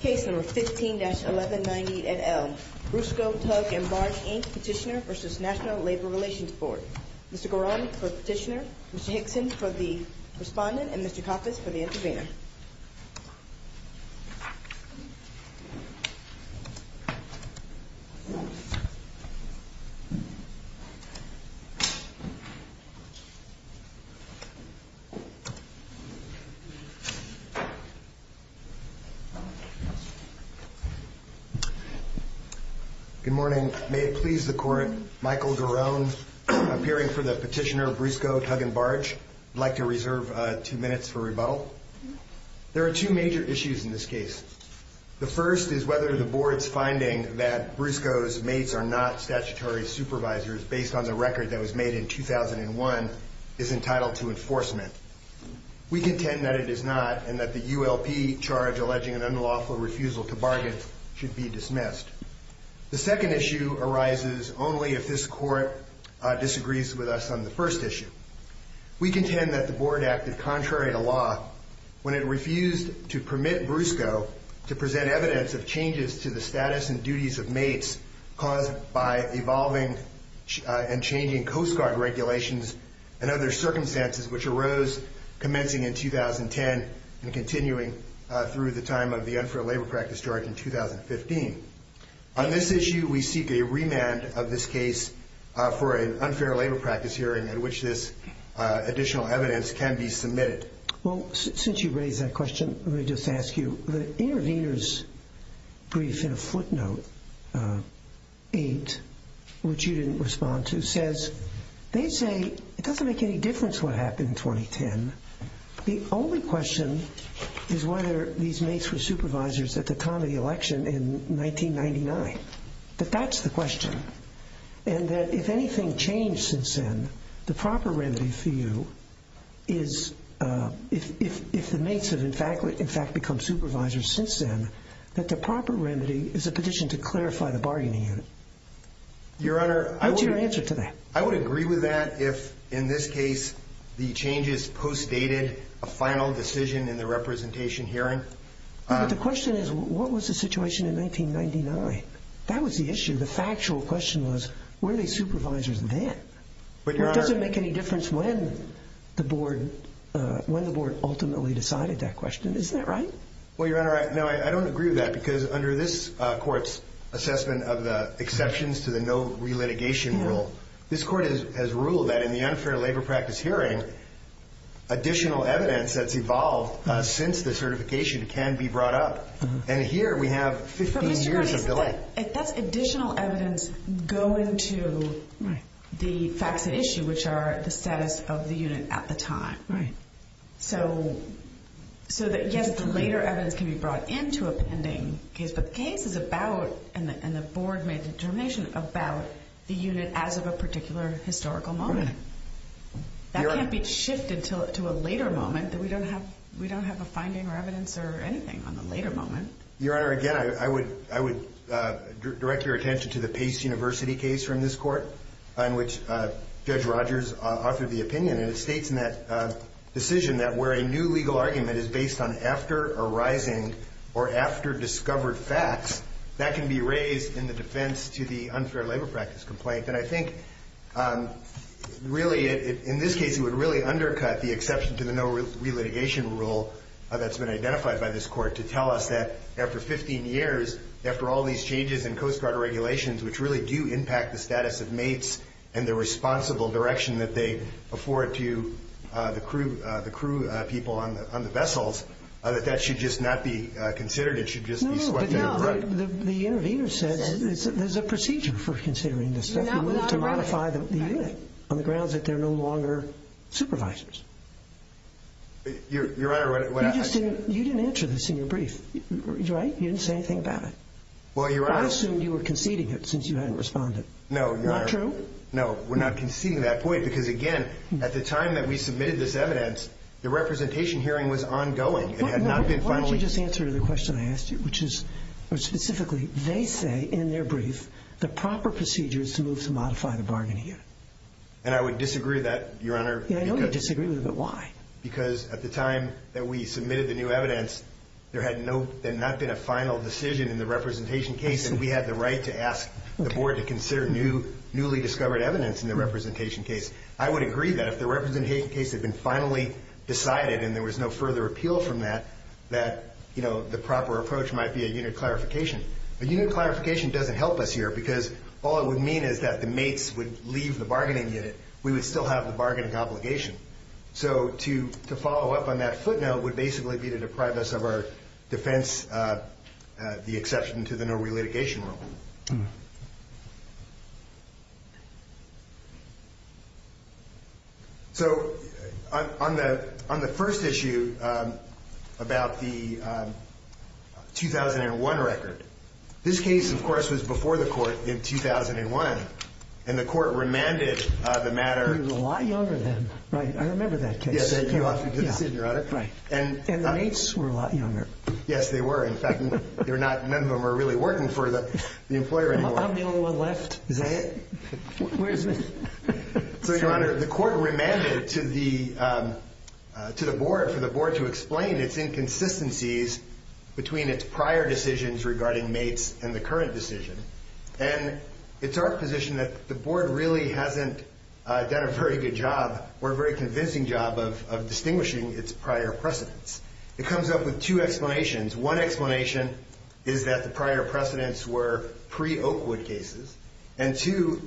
Case No. 15-1190 et al. Rusco Tug & Barge, Inc. Petitioner v. National Labor Relations Board Mr. Goran for the petitioner, Mr. Hickson for the respondent, and Mr. Coppes for the intervener. Michael Goran, Petitioner The second issue arises only if this Court disagrees with us on the first issue. We contend that the Board acted contrary to law when it refused to permit Brusco to present evidence of changes to the status and duties of mates caused by evolving and changing Coast Guard regulations and other circumstances which arose commencing in 2010. On this issue, we seek a remand of this case for an unfair labor practice hearing at which this additional evidence can be submitted. Since you raised that question, let me just ask you. The intervener's brief in a footnote, 8, which you didn't respond to, says they say it doesn't make any difference what happened in 2010. The only question is whether these mates were supervisors at the time of the election in 1999. That's the question. And that if anything changed since then, the proper remedy for you is, if the mates have in fact become supervisors since then, that the proper remedy is a petition to clarify the bargaining unit. What's your answer to that? I would agree with that if, in this case, the changes postdated a final decision in the representation hearing. But the question is, what was the situation in 1999? That was the issue. The factual question was, were they supervisors then? It doesn't make any difference when the board ultimately decided that question. Isn't that right? Well, Your Honor, no, I don't agree with that because under this court's assessment of the exceptions to the no relitigation rule, this court has ruled that in the unfair labor practice hearing, additional evidence that's evolved since the certification can be brought up. And here we have 15 years of delay. But Mr. Gurney, that's additional evidence going to the facts at issue, which are the status of the unit at the time. Right. So that, yes, the later evidence can be brought into a pending case. But the case is about, and the board made the determination, about the unit as of a particular historical moment. That can't be shifted to a later moment. We don't have a finding or evidence or anything on the later moment. Your Honor, again, I would direct your attention to the Pace University case from this court in which Judge Rogers offered the opinion. And it states in that decision that where a new legal argument is based on after arising or after discovered facts, that can be raised in the defense to the unfair labor practice complaint. And I think, really, in this case, it would really undercut the exception to the no relitigation rule that's been identified by this court to tell us that after 15 years, after all these changes in Coast Guard regulations, which really do impact the status of mates and the responsible direction that they afford to the crew people on the vessels, that that should just not be considered. It should just be swept under the rug. No, no. But, no, the intervener says there's a procedure for considering this. We move to modify the unit on the grounds that they're no longer supervisors. Your Honor, what I'm saying – You didn't answer this in your brief. Right? You didn't say anything about it. I assumed you were conceding it since you hadn't responded. No, Your Honor. Not true? No, we're not conceding that point because, again, at the time that we submitted this evidence, the representation hearing was ongoing and had not been finalized. Why don't you just answer the question I asked you, which is, specifically, they say in their brief the proper procedure is to move to modify the bargaining unit. And I would disagree with that, Your Honor. I know you disagree with it, but why? Because at the time that we submitted the new evidence, there had not been a final decision in the representation case, and we had the right to ask the Board to consider newly discovered evidence in the representation case. I would agree that if the representation case had been finally decided and there was no further appeal from that, that the proper approach might be a unit clarification. A unit clarification doesn't help us here because all it would mean is that the mates would leave the bargaining unit. We would still have the bargaining obligation. So to follow up on that footnote would basically be to deprive us of our defense, the exception to the no relitigation rule. So on the first issue about the 2001 record, this case, of course, was before the court in 2001, and the court remanded the matter. They were a lot younger then. Right. I remember that case. Yes, they knew after the decision, Your Honor. Right. And the mates were a lot younger. Yes, they were. In fact, none of them were really working for the employer anymore. I'm the only one left. Is that it? Where's the... So, Your Honor, the court remanded to the Board for the Board to explain its inconsistencies between its prior decisions regarding mates and the current decision. And it's our position that the Board really hasn't done a very good job or a very convincing job of distinguishing its prior precedents. It comes up with two explanations. One explanation is that the prior precedents were pre-Oakwood cases. And two,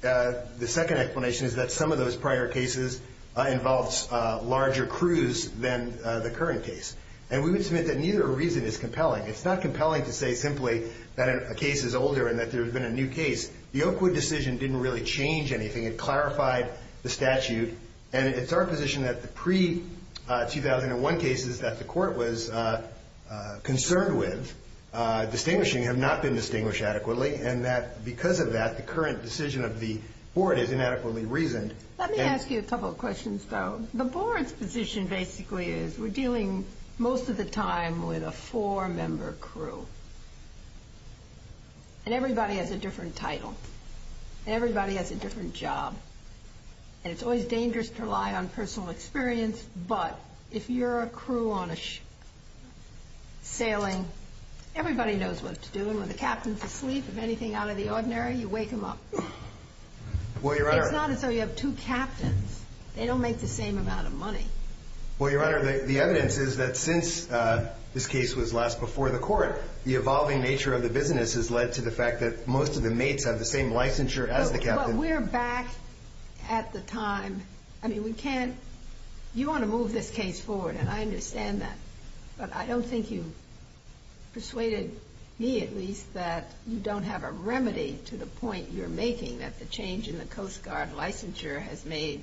the second explanation is that some of those prior cases involves larger crews than the current case. And we would submit that neither reason is compelling. It's not compelling to say simply that a case is older and that there has been a new case. The Oakwood decision didn't really change anything. It clarified the statute. And it's our position that the pre-2001 cases that the court was concerned with distinguishing have not been distinguished adequately. And that because of that, the current decision of the Board is inadequately reasoned. Let me ask you a couple of questions, though. The Board's position basically is we're dealing most of the time with a four-member crew. And everybody has a different title. Everybody has a different job. And it's always dangerous to rely on personal experience. But if you're a crew on a sailing, everybody knows what to do. And when the captain's asleep, if anything out of the ordinary, you wake him up. It's not as though you have two captains. They don't make the same amount of money. Well, Your Honor, the evidence is that since this case was last before the court, the evolving nature of the business has led to the fact that most of the mates have the same licensure as the captain. But we're back at the time. I mean, we can't. You want to move this case forward, and I understand that. But I don't think you've persuaded me, at least, that you don't have a remedy to the point you're making that the change in the Coast Guard licensure has made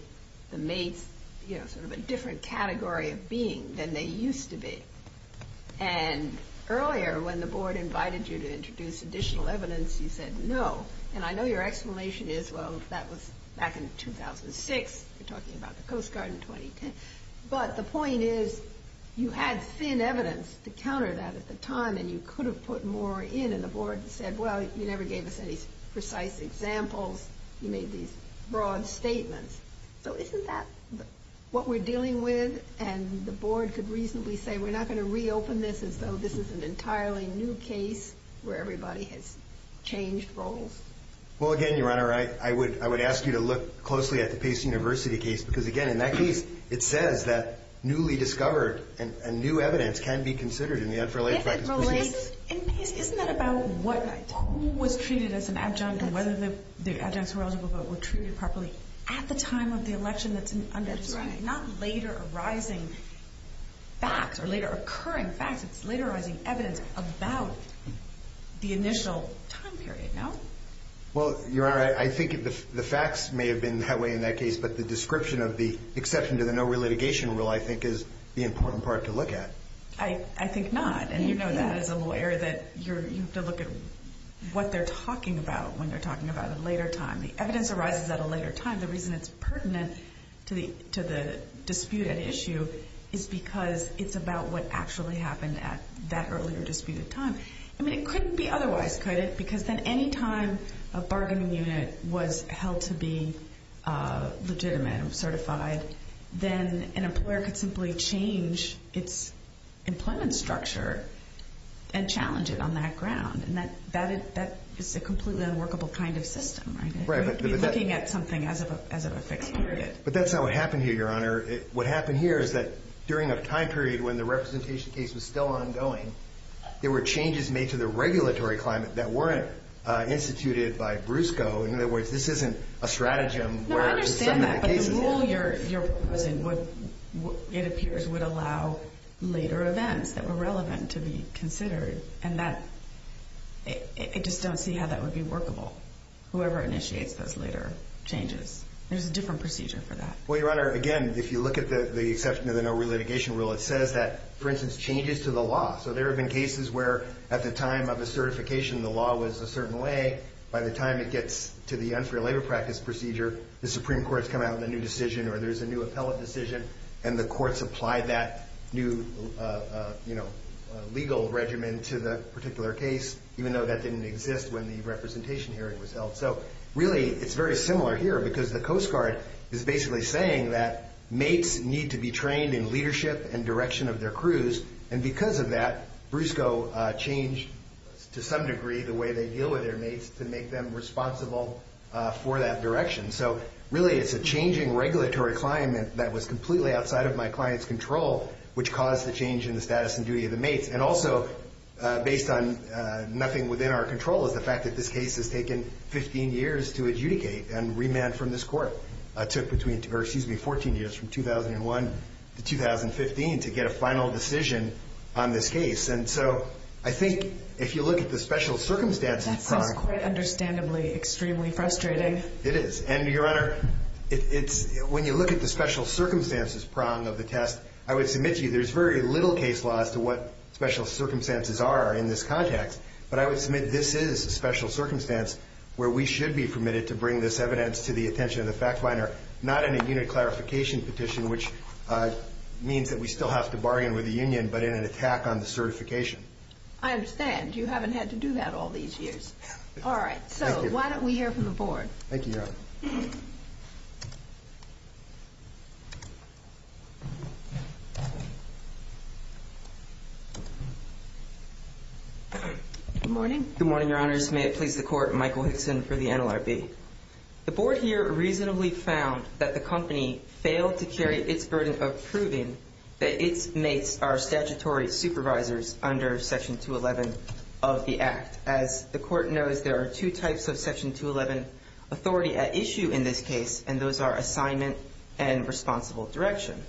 the mates, you know, sort of a different category of being than they used to be. And earlier, when the Board invited you to introduce additional evidence, you said no. And I know your explanation is, well, that was back in 2006. We're talking about the Coast Guard in 2010. But the point is you had thin evidence to counter that at the time, and you could have put more in. And the Board said, well, you never gave us any precise examples. You made these broad statements. So isn't that what we're dealing with? And the Board could reasonably say we're not going to reopen this as though this is an entirely new case where everybody has changed roles. Well, again, Your Honor, I would ask you to look closely at the Pace University case because, again, in that case, it says that newly discovered and new evidence can be considered in the unfair labor practice proceedings. And isn't that about who was treated as an adjunct and whether the adjuncts who were eligible were treated properly at the time of the election that's undisclosed? That's right. Not later arising facts or later occurring facts. It's later arising evidence about the initial time period, no? Well, Your Honor, I think the facts may have been that way in that case, but the description of the exception to the no relitigation rule, I think, is the important part to look at. I think not. And you know that as a lawyer that you have to look at what they're talking about when they're talking about a later time. The evidence arises at a later time. The reason it's pertinent to the disputed issue is because it's about what actually happened at that earlier disputed time. I mean, it couldn't be otherwise, could it? Because then any time a bargaining unit was held to be legitimate and certified, then an employer could simply change its employment structure and challenge it on that ground. And that is a completely unworkable kind of system, right? You're looking at something as of a fixed period. But that's not what happened here, Your Honor. What happened here is that during a time period when the representation case was still ongoing, there were changes made to the regulatory climate that weren't instituted by BRUSCO. In other words, this isn't a stratagem where some of that case is held. The rule you're proposing, it appears, would allow later events that were relevant to be considered. And I just don't see how that would be workable, whoever initiates those later changes. There's a different procedure for that. Well, Your Honor, again, if you look at the exception to the no relitigation rule, it says that, for instance, changes to the law. So there have been cases where at the time of the certification, the law was a certain way. By the time it gets to the unfair labor practice procedure, the Supreme Court has come out with a new decision or there's a new appellate decision, and the courts apply that new legal regimen to the particular case, even though that didn't exist when the representation hearing was held. So, really, it's very similar here because the Coast Guard is basically saying that mates need to be trained in leadership and direction of their crews. And because of that, BRUSCO changed, to some degree, the way they deal with their mates to make them responsible for that direction. So, really, it's a changing regulatory climate that was completely outside of my client's control, which caused the change in the status and duty of the mates. And also, based on nothing within our control, is the fact that this case has taken 15 years to adjudicate and remand from this court. It took between 14 years, from 2001 to 2015, to get a final decision on this case. And so, I think, if you look at the special circumstances prong... That sounds quite understandably extremely frustrating. It is. And, Your Honor, when you look at the special circumstances prong of the test, I would submit to you there's very little case law as to what special circumstances are in this context. But I would submit this is a special circumstance where we should be permitted to bring this evidence to the attention of the fact finder, not in a unit clarification petition, which means that we still have to bargain with the union, but in an attack on the certification. I understand. You haven't had to do that all these years. All right. So, why don't we hear from the Board? Thank you, Your Honor. Good morning. Good morning, Your Honors. May it please the Court, Michael Hickson for the NLRB. The Board here reasonably found that the company failed to carry its burden of proving that its mates are statutory supervisors under Section 211 of the Act. As the Court knows, there are two types of Section 211 authority at issue in this case, and those are assignment and responsible direction.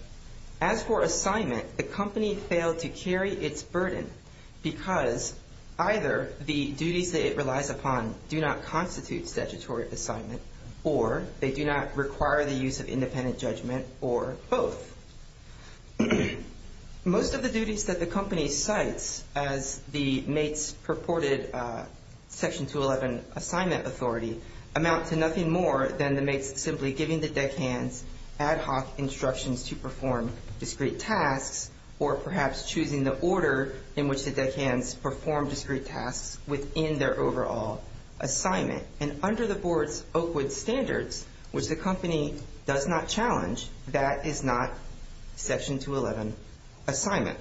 As for assignment, the company failed to carry its burden because either the duties that it relies upon do not constitute statutory assignment or they do not require the use of independent judgment or both. Most of the duties that the company cites as the mates' purported Section 211 assignment authority amount to nothing more than the mates simply giving the deckhands ad hoc instructions to perform discrete tasks or perhaps choosing the order in which the deckhands perform discrete tasks within their overall assignment. And under the Board's Oakwood standards, which the company does not challenge, that is not Section 211 assignment.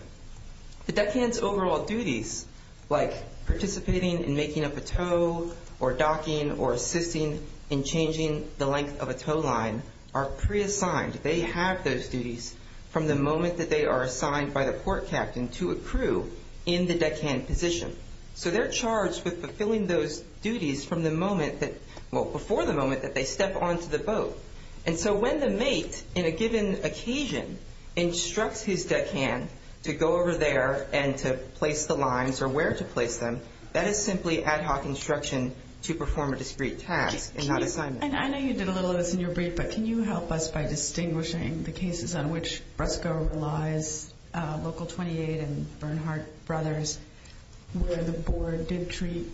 The deckhands' overall duties, like participating in making up a tow or docking or assisting in changing the length of a tow line, are pre-assigned. They have those duties from the moment that they are assigned by the port captain to a crew in the deckhand position. So they're charged with fulfilling those duties from the moment that, well, before the moment that they step onto the boat. And so when the mate, in a given occasion, instructs his deckhand to go over there and to place the lines or where to place them, that is simply ad hoc instruction to perform a discrete task and not assignment. And I know you did a little of this in your brief, but can you help us by distinguishing the cases on which BRESCO relies, Local 28 and Bernhardt Brothers, where the Board did treat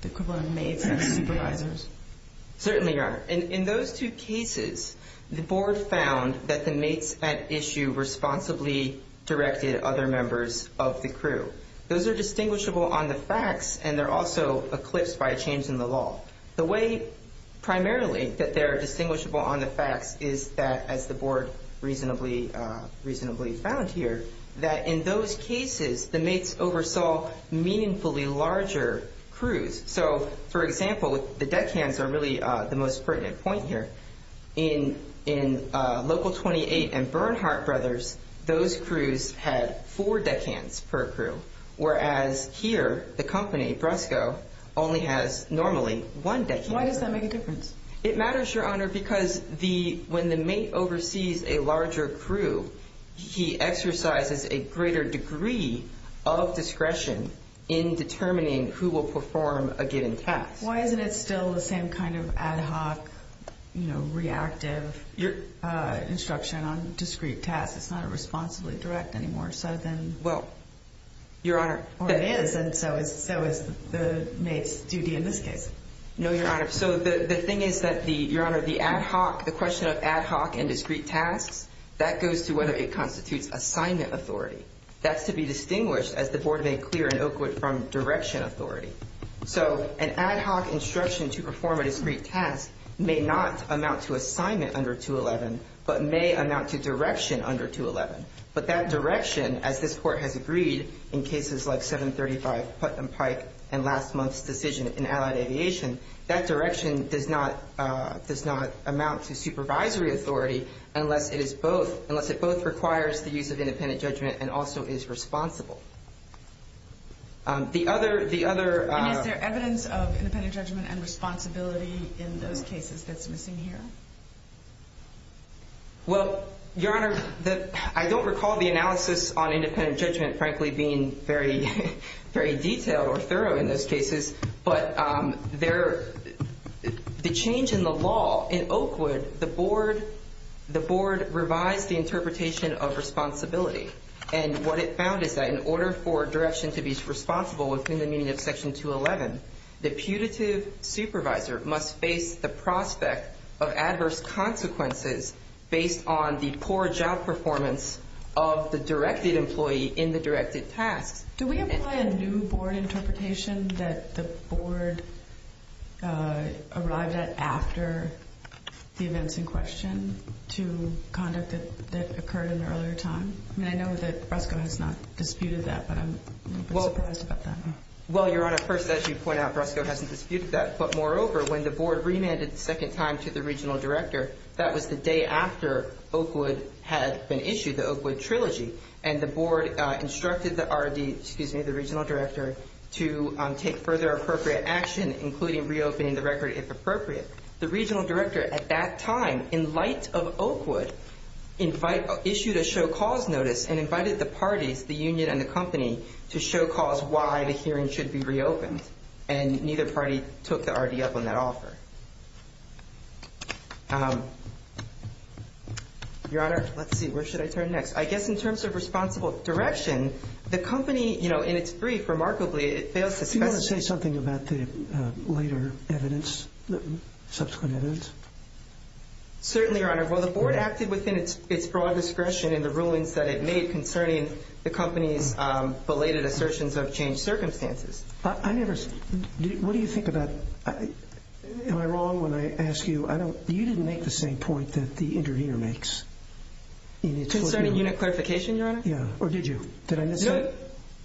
the equivalent of mates as supervisors? Certainly, Your Honor. In those two cases, the Board found that the mates at issue responsibly directed other members of the crew. Those are distinguishable on the facts, and they're also eclipsed by a change in the law. The way, primarily, that they're distinguishable on the facts is that, as the Board reasonably found here, that in those cases, the mates oversaw meaningfully larger crews. So, for example, the deckhands are really the most pertinent point here. In Local 28 and Bernhardt Brothers, those crews had four deckhands per crew, whereas here, the company, BRESCO, only has normally one deckhand per crew. Why does that make a difference? It matters, Your Honor, because when the mate oversees a larger crew, he exercises a greater degree of discretion in determining who will perform a given task. Why isn't it still the same kind of ad hoc, you know, reactive instruction on discrete tasks? It's not a responsibly direct anymore, so then... Well, Your Honor... Or it is, and so is the mate's duty in this case. No, Your Honor. So the thing is that the, Your Honor, the ad hoc, the question of ad hoc and discrete tasks, that goes to whether it constitutes assignment authority. That's to be distinguished, as the Board made clear in Oakwood, from direction authority. So an ad hoc instruction to perform a discrete task may not amount to assignment under 211, but may amount to direction under 211. But that direction, as this Court has agreed, in cases like 735 Putnam Pike and last month's decision in Allied Aviation, that direction does not amount to supervisory authority unless it is both, unless it both requires the use of independent judgment and also is responsible. The other... And is there evidence of independent judgment and responsibility in those cases that's missing here? Well, Your Honor, I don't recall the analysis on independent judgment, frankly, being very detailed or thorough in those cases, but the change in the law in Oakwood, the Board revised the interpretation of responsibility. And what it found is that in order for direction to be responsible within the meaning of Section 211, the putative supervisor must face the prospect of adverse consequences based on the poor job performance of the directed employee in the directed tasks. Do we employ a new Board interpretation that the Board arrived at after the events in question to conduct that occurred in the earlier time? I know that BRESCO has not disputed that, but I'm a little bit surprised about that. Well, Your Honor, first, as you point out, BRESCO hasn't disputed that, but moreover, when the Board remanded the second time to the Regional Director, that was the day after Oakwood had been issued, the Oakwood Trilogy, and the Board instructed the Regional Director to take further appropriate action, including reopening the record if appropriate. The Regional Director at that time, in light of Oakwood, issued a show cause notice and invited the parties, the union and the company, to show cause why the hearing should be reopened. And neither party took the RD up on that offer. Your Honor, let's see, where should I turn next? I guess in terms of responsible direction, the company, in its brief, remarkably, it fails to specify... Do you want to say something about the later evidence, subsequent evidence? Certainly, Your Honor. Well, the Board acted within its broad discretion in the rulings that it made concerning the company's belated assertions of changed circumstances. I never... What do you think about... Am I wrong when I ask you... You didn't make the same point that the intervener makes. Concerning unit clarification, Your Honor? Yeah. Or did you? Did I miss it? No,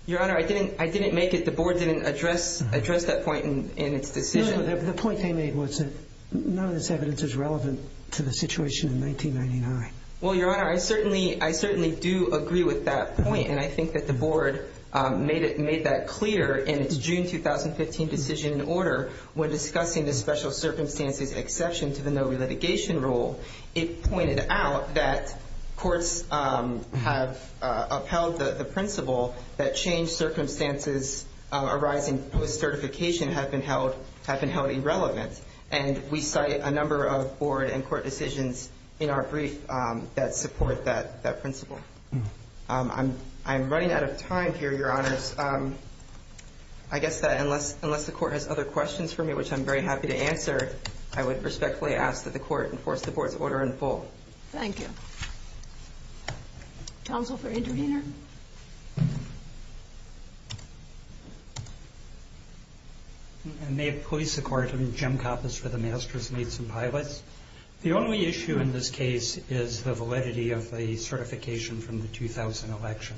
Your Honor, I didn't make it. The Board didn't address that point in its decision. No, the point they made was that none of this evidence is relevant to the situation in 1999. Well, Your Honor, I certainly do agree with that point, and I think that the Board made that clear in its June 2015 decision in order. When discussing the special circumstances exception to the no relitigation rule, it pointed out that courts have upheld the principle that changed circumstances arising with certification have been held irrelevant. And we cite a number of Board and court decisions in our brief that support that principle. I'm running out of time here, Your Honors. I guess that unless the Court has other questions for me, which I'm very happy to answer, I would respectfully ask that the Court enforce the Board's order in full. Thank you. Counsel for intervener? And may it please the Court, I'm Jim Kappas for the Masters, Mates, and Pilots. The only issue in this case is the validity of the certification from the 2000 election.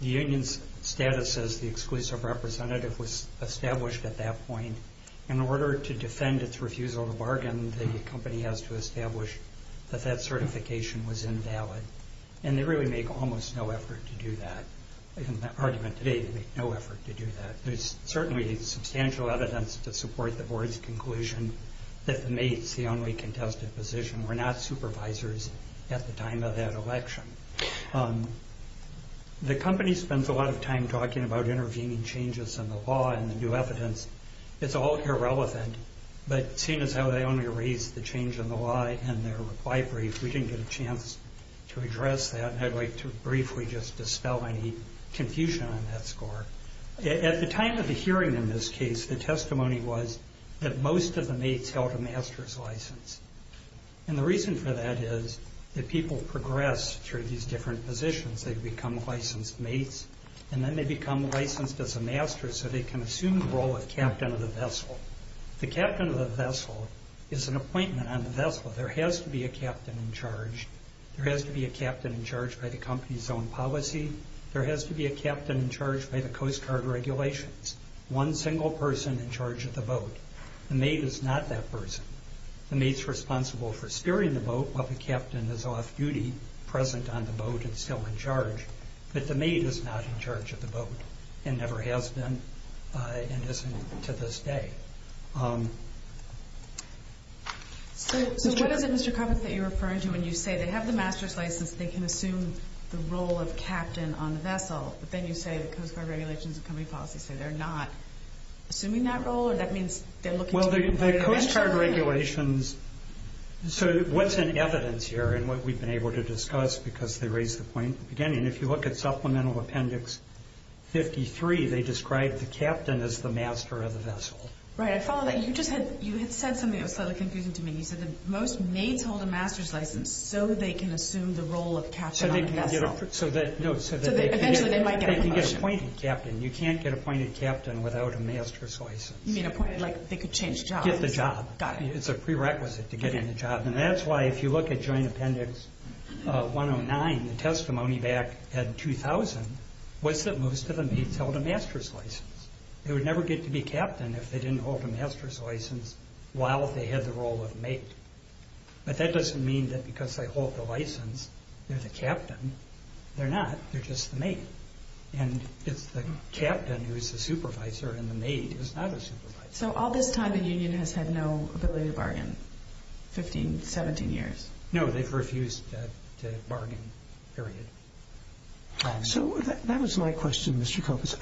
The union's status as the exclusive representative was established at that point. In order to defend its refusal to bargain, the company has to establish that that certification was invalid. And they really make almost no effort to do that. In the argument today, they make no effort to do that. There's certainly substantial evidence to support the Board's conclusion that the Mates, the only contested position, were not supervisors at the time of that election. The company spends a lot of time talking about intervening changes in the law and the new evidence. It's all irrelevant. But seeing as how they only raised the change in the law in their reply brief, we didn't get a chance to address that. I'd like to briefly just dispel any confusion on that score. At the time of the hearing in this case, the testimony was that most of the Mates held a Master's license. And the reason for that is that people progress through these different positions. They become licensed Mates, and then they become licensed as a Master, so they can assume the role of Captain of the Vessel. The Captain of the Vessel is an appointment on the Vessel. There has to be a Captain in charge. There has to be a Captain in charge by the company's own policy. There has to be a Captain in charge by the Coast Guard regulations. One single person in charge of the boat. The Mate is not that person. The Mate's responsible for steering the boat while the Captain is off-duty, present on the boat and still in charge. But the Mate is not in charge of the boat and never has been and isn't to this day. So what is it, Mr. Coppock, that you're referring to when you say they have the Master's license, they can assume the role of Captain on the Vessel, but then you say the Coast Guard regulations and company policy say they're not assuming that role, or that means they're looking to... Well, the Coast Guard regulations... So what's in evidence here, and what we've been able to discuss, because they raised the point at the beginning, if you look at Supplemental Appendix 53, they describe the Captain as the Master of the Vessel. Right, I follow that. You just had... You had said something that was slightly confusing to me. You said that most Mates hold a Master's license so they can assume the role of Captain on the Vessel. So they can get... No, so they can get... So eventually they might get a promotion. They can get appointed Captain. You can't get appointed Captain without a Master's license. You mean appointed like they could change jobs? Get the job. Got it. It's a prerequisite to get in the job. And that's why, if you look at Joint Appendix 109, the testimony back in 2000 was that most of the Mates held a Master's license. They would never get to be Captain if they didn't hold a Master's license while they had the role of Mate. But that doesn't mean that because they hold the license, they're the Captain. They're not. They're just the Mate. And it's the Captain who's the Supervisor and the Mate who's not a Supervisor. So all this time the Union has had no ability to bargain? 15, 17 years? No, they've refused to bargain, period. So that was my question, Mr. Copes.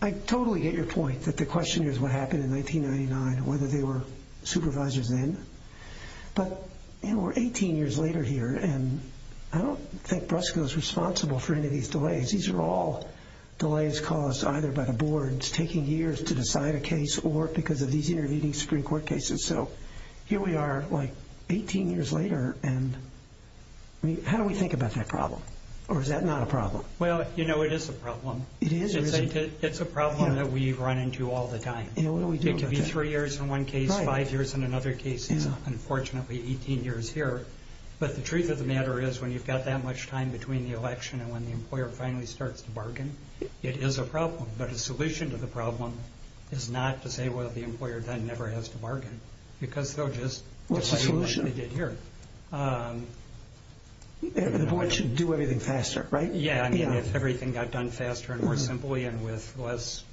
I totally get your point that the question is what happened in 1999, whether they were Supervisors then. But we're 18 years later here, and I don't think Brusco is responsible for any of these delays. These are all delays caused either by the boards taking years to decide a case or because of these intervening Supreme Court cases. So here we are, like, 18 years later, and how do we think about that problem? Or is that not a problem? Well, you know, it is a problem. It is? It's a problem that we run into all the time. It could be 3 years in one case, 5 years in another case. It's unfortunately 18 years here. But the truth of the matter is when you've got that much time between the election and when the employer finally starts to bargain, it is a problem. But a solution to the problem is not to say, well, the employer then never has to bargain because they'll just do what they did here. What's the solution? They want you to do everything faster, right? Yeah, I mean, if everything got done faster and more simply and with less...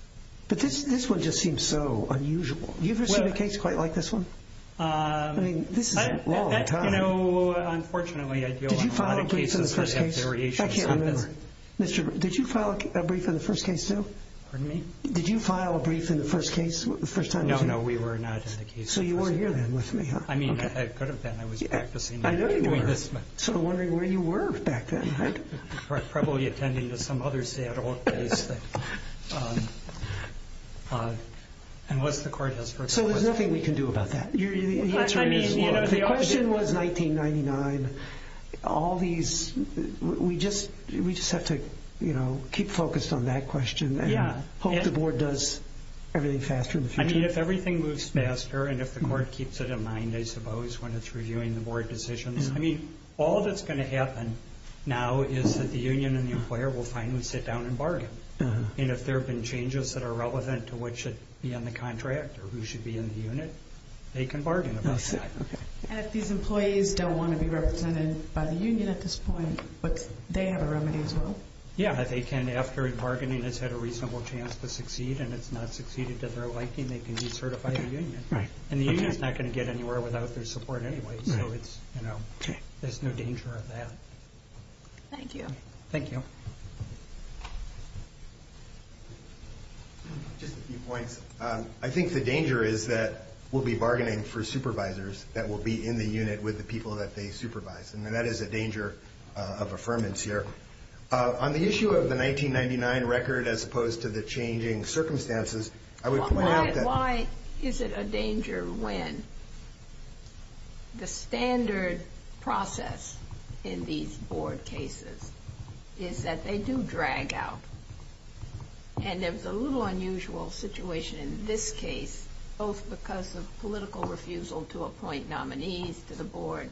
But this one just seems so unusual. Have you ever seen a case quite like this one? I mean, this is a long time. You know, unfortunately, I deal with a lot of cases that have variations. I can't remember. Did you file a brief in the first case too? Pardon me? Did you file a brief in the first case? No, no, we were not in the case. So you were here then with me, huh? I mean, I could have been. I was practicing. I know you were. So I'm wondering where you were back then. Probably attending to some other sad old case. And what's the court has for us? So there's nothing we can do about that. The question was 1999. All these... We just have to keep focused on that question and hope the board does everything faster in the future. I mean, if everything moves faster and if the court keeps it in mind, I suppose, when it's reviewing the board decisions. I mean, all that's going to happen now is that the union and the employer will finally sit down and bargain. And if there have been changes that are relevant to what should be on the contract or who should be in the unit, they can bargain about that. And if these employees don't want to be represented by the union at this point, they have a remedy as well? Yeah, they can. After bargaining has had a reasonable chance to succeed and it's not succeeded to their liking, they can decertify the union. And the union's not going to get anywhere without their support anyway. So it's... There's no danger of that. Thank you. Thank you. Just a few points. I think the danger is that we'll be bargaining for supervisors that will be in the unit with the people that they supervise. And that is a danger of affirmance here. On the issue of the 1999 record as opposed to the changing circumstances, I would point out that... The standard process in these board cases is that they do drag out. And there was a little unusual situation in this case, both because of political refusal to appoint nominees to the board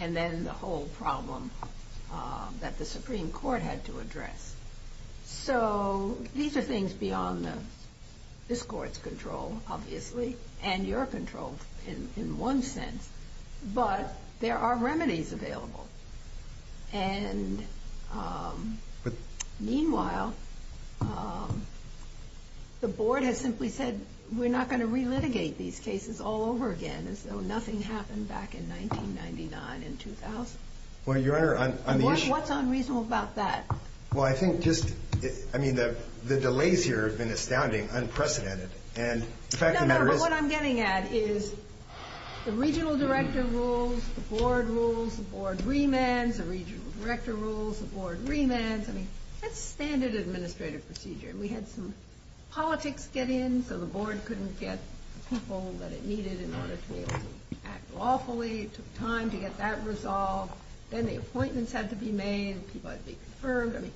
and then the whole problem that the Supreme Court had to address. So these are things beyond this Court's control, obviously, and your control in one sense. But there are remedies available. And meanwhile, the board has simply said, we're not going to relitigate these cases all over again as though nothing happened back in 1999 and 2000. Well, Your Honor, on the issue... What's unreasonable about that? Well, I think just... I mean, the delays here have been astounding, unprecedented. And the fact of the matter is... No, no, but what I'm getting at is the regional director rules, the board rules, the board remands, the regional director rules, the board remands. I mean, that's standard administrative procedure. We had some politics get in so the board couldn't get people that it needed in order to be able to act lawfully. It took time to get that resolved. Then the appointments had to be made. People had to be confirmed. I mean,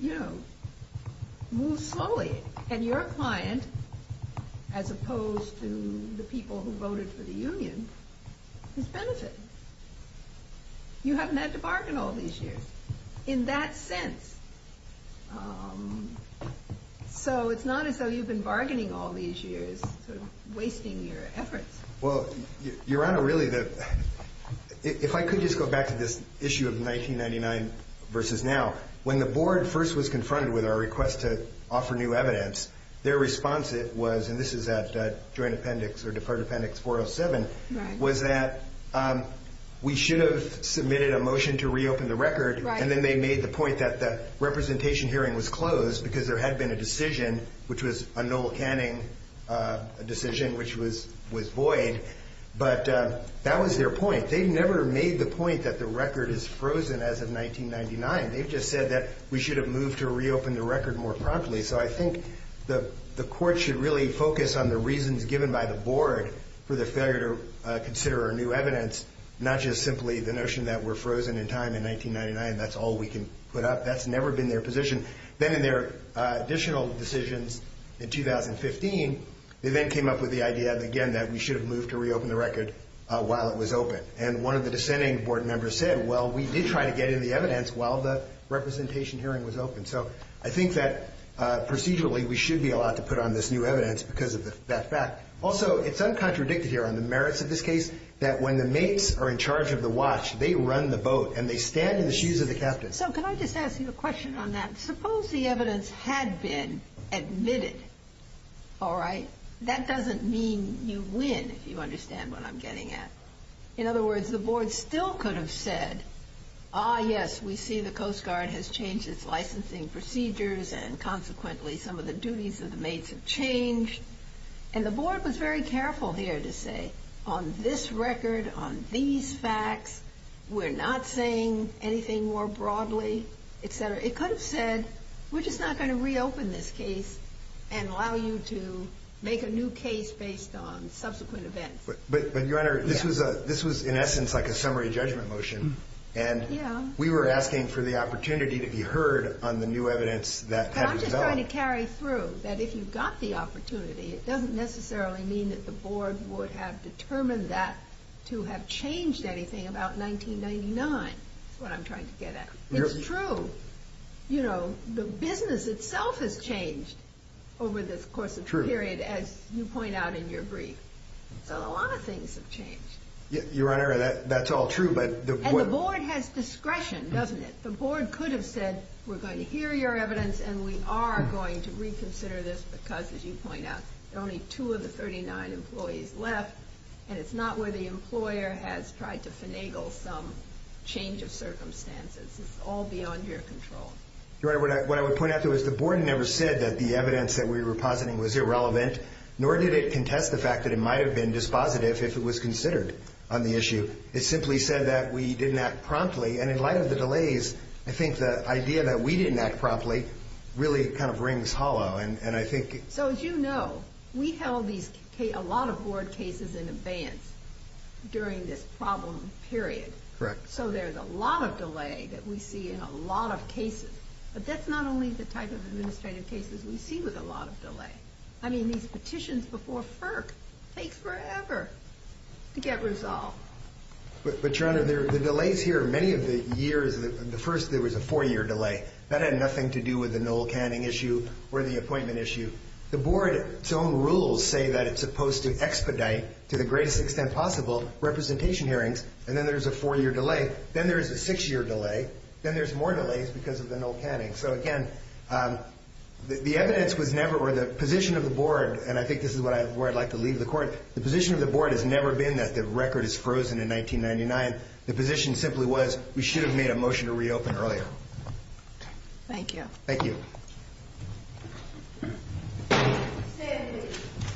you know, move slowly. And your client, as opposed to the people who voted for the union, is benefiting. You haven't had to bargain all these years. In that sense. So it's not as though you've been bargaining all these years, sort of wasting your efforts. Well, Your Honor, really the... If I could just go back to this issue of 1999 versus now. When the board first was confronted with our request to offer new evidence, their response was, and this is at Joint Appendix or Department Appendix 407, was that we should have submitted a motion to reopen the record, and then they made the point that the representation hearing was closed because there had been a decision, which was a Noel Canning decision, which was void. But that was their point. They never made the point that the record is frozen as of 1999. They just said that we should have moved to reopen the record more promptly. So I think the court should really focus on the reasons given by the board for their failure to consider our new evidence, not just simply the notion that we're frozen in time in 1999, that's all we can put up. That's never been their position. Then in their additional decisions in 2015, they then came up with the idea, again, that we should have moved to reopen the record while it was open. And one of the dissenting board members said, well, we did try to get in the evidence while the representation hearing was open. So I think that procedurally, we should be allowed to put on this new evidence because of that fact. Also, it's uncontradicted here on the merits of this case that when the mates are in charge of the watch, they run the boat, and they stand in the shoes of the captain. So can I just ask you a question on that? Suppose the evidence had been admitted, all right? That doesn't mean you win, if you understand what I'm getting at. In other words, the board still could have said, ah, yes, we see the Coast Guard has changed its licensing procedures, and consequently some of the duties of the mates have changed. And the board was very careful here to say, on this record, on these facts, we're not saying anything more broadly, et cetera. It could have said, we're just not going to reopen this case and allow you to make a new case based on subsequent events. But, Your Honor, this was, in essence, like a summary judgment motion. And we were asking for the opportunity to be heard on the new evidence that had been developed. I'm just trying to carry through, that if you've got the opportunity, it doesn't necessarily mean that the board would have determined that to have changed anything about 1999. That's what I'm trying to get at. It's true. You know, the business itself has changed So a lot of things have changed. Your Honor, that's all true, but... And the board has discretion, doesn't it? The board could have said, we're going to hear your evidence and we are going to reconsider this, because, as you point out, there are only two of the 39 employees left, and it's not where the employer has tried to finagle some change of circumstances. It's all beyond your control. Your Honor, what I would point out, the board never said that the evidence that we were positing was irrelevant, nor did it contest the fact that it might have been dispositive if it was considered on the issue. It simply said that we didn't act promptly, and in light of the delays, I think the idea that we didn't act promptly really kind of rings hollow, and I think... So, as you know, we held a lot of board cases in advance during this problem period. Correct. So there's a lot of delay that we see in a lot of cases, but that's not only the type of administrative cases we see with a lot of delay. I mean, these petitions before FERC take forever to get resolved. But, Your Honor, the delays here, many of the years... The first, there was a four-year delay. That had nothing to do with the null canning issue or the appointment issue. The board's own rules say that it's supposed to expedite, to the greatest extent possible, representation hearings, and then there's a four-year delay. Then there's a six-year delay. Then there's more delays because of the null canning. So, again, the evidence was never... The position of the board, and I think this is where I'd like to leave the court, the position of the board has never been that the record is frozen in 1999. The position simply was, we should have made a motion to reopen earlier. Thank you. Thank you.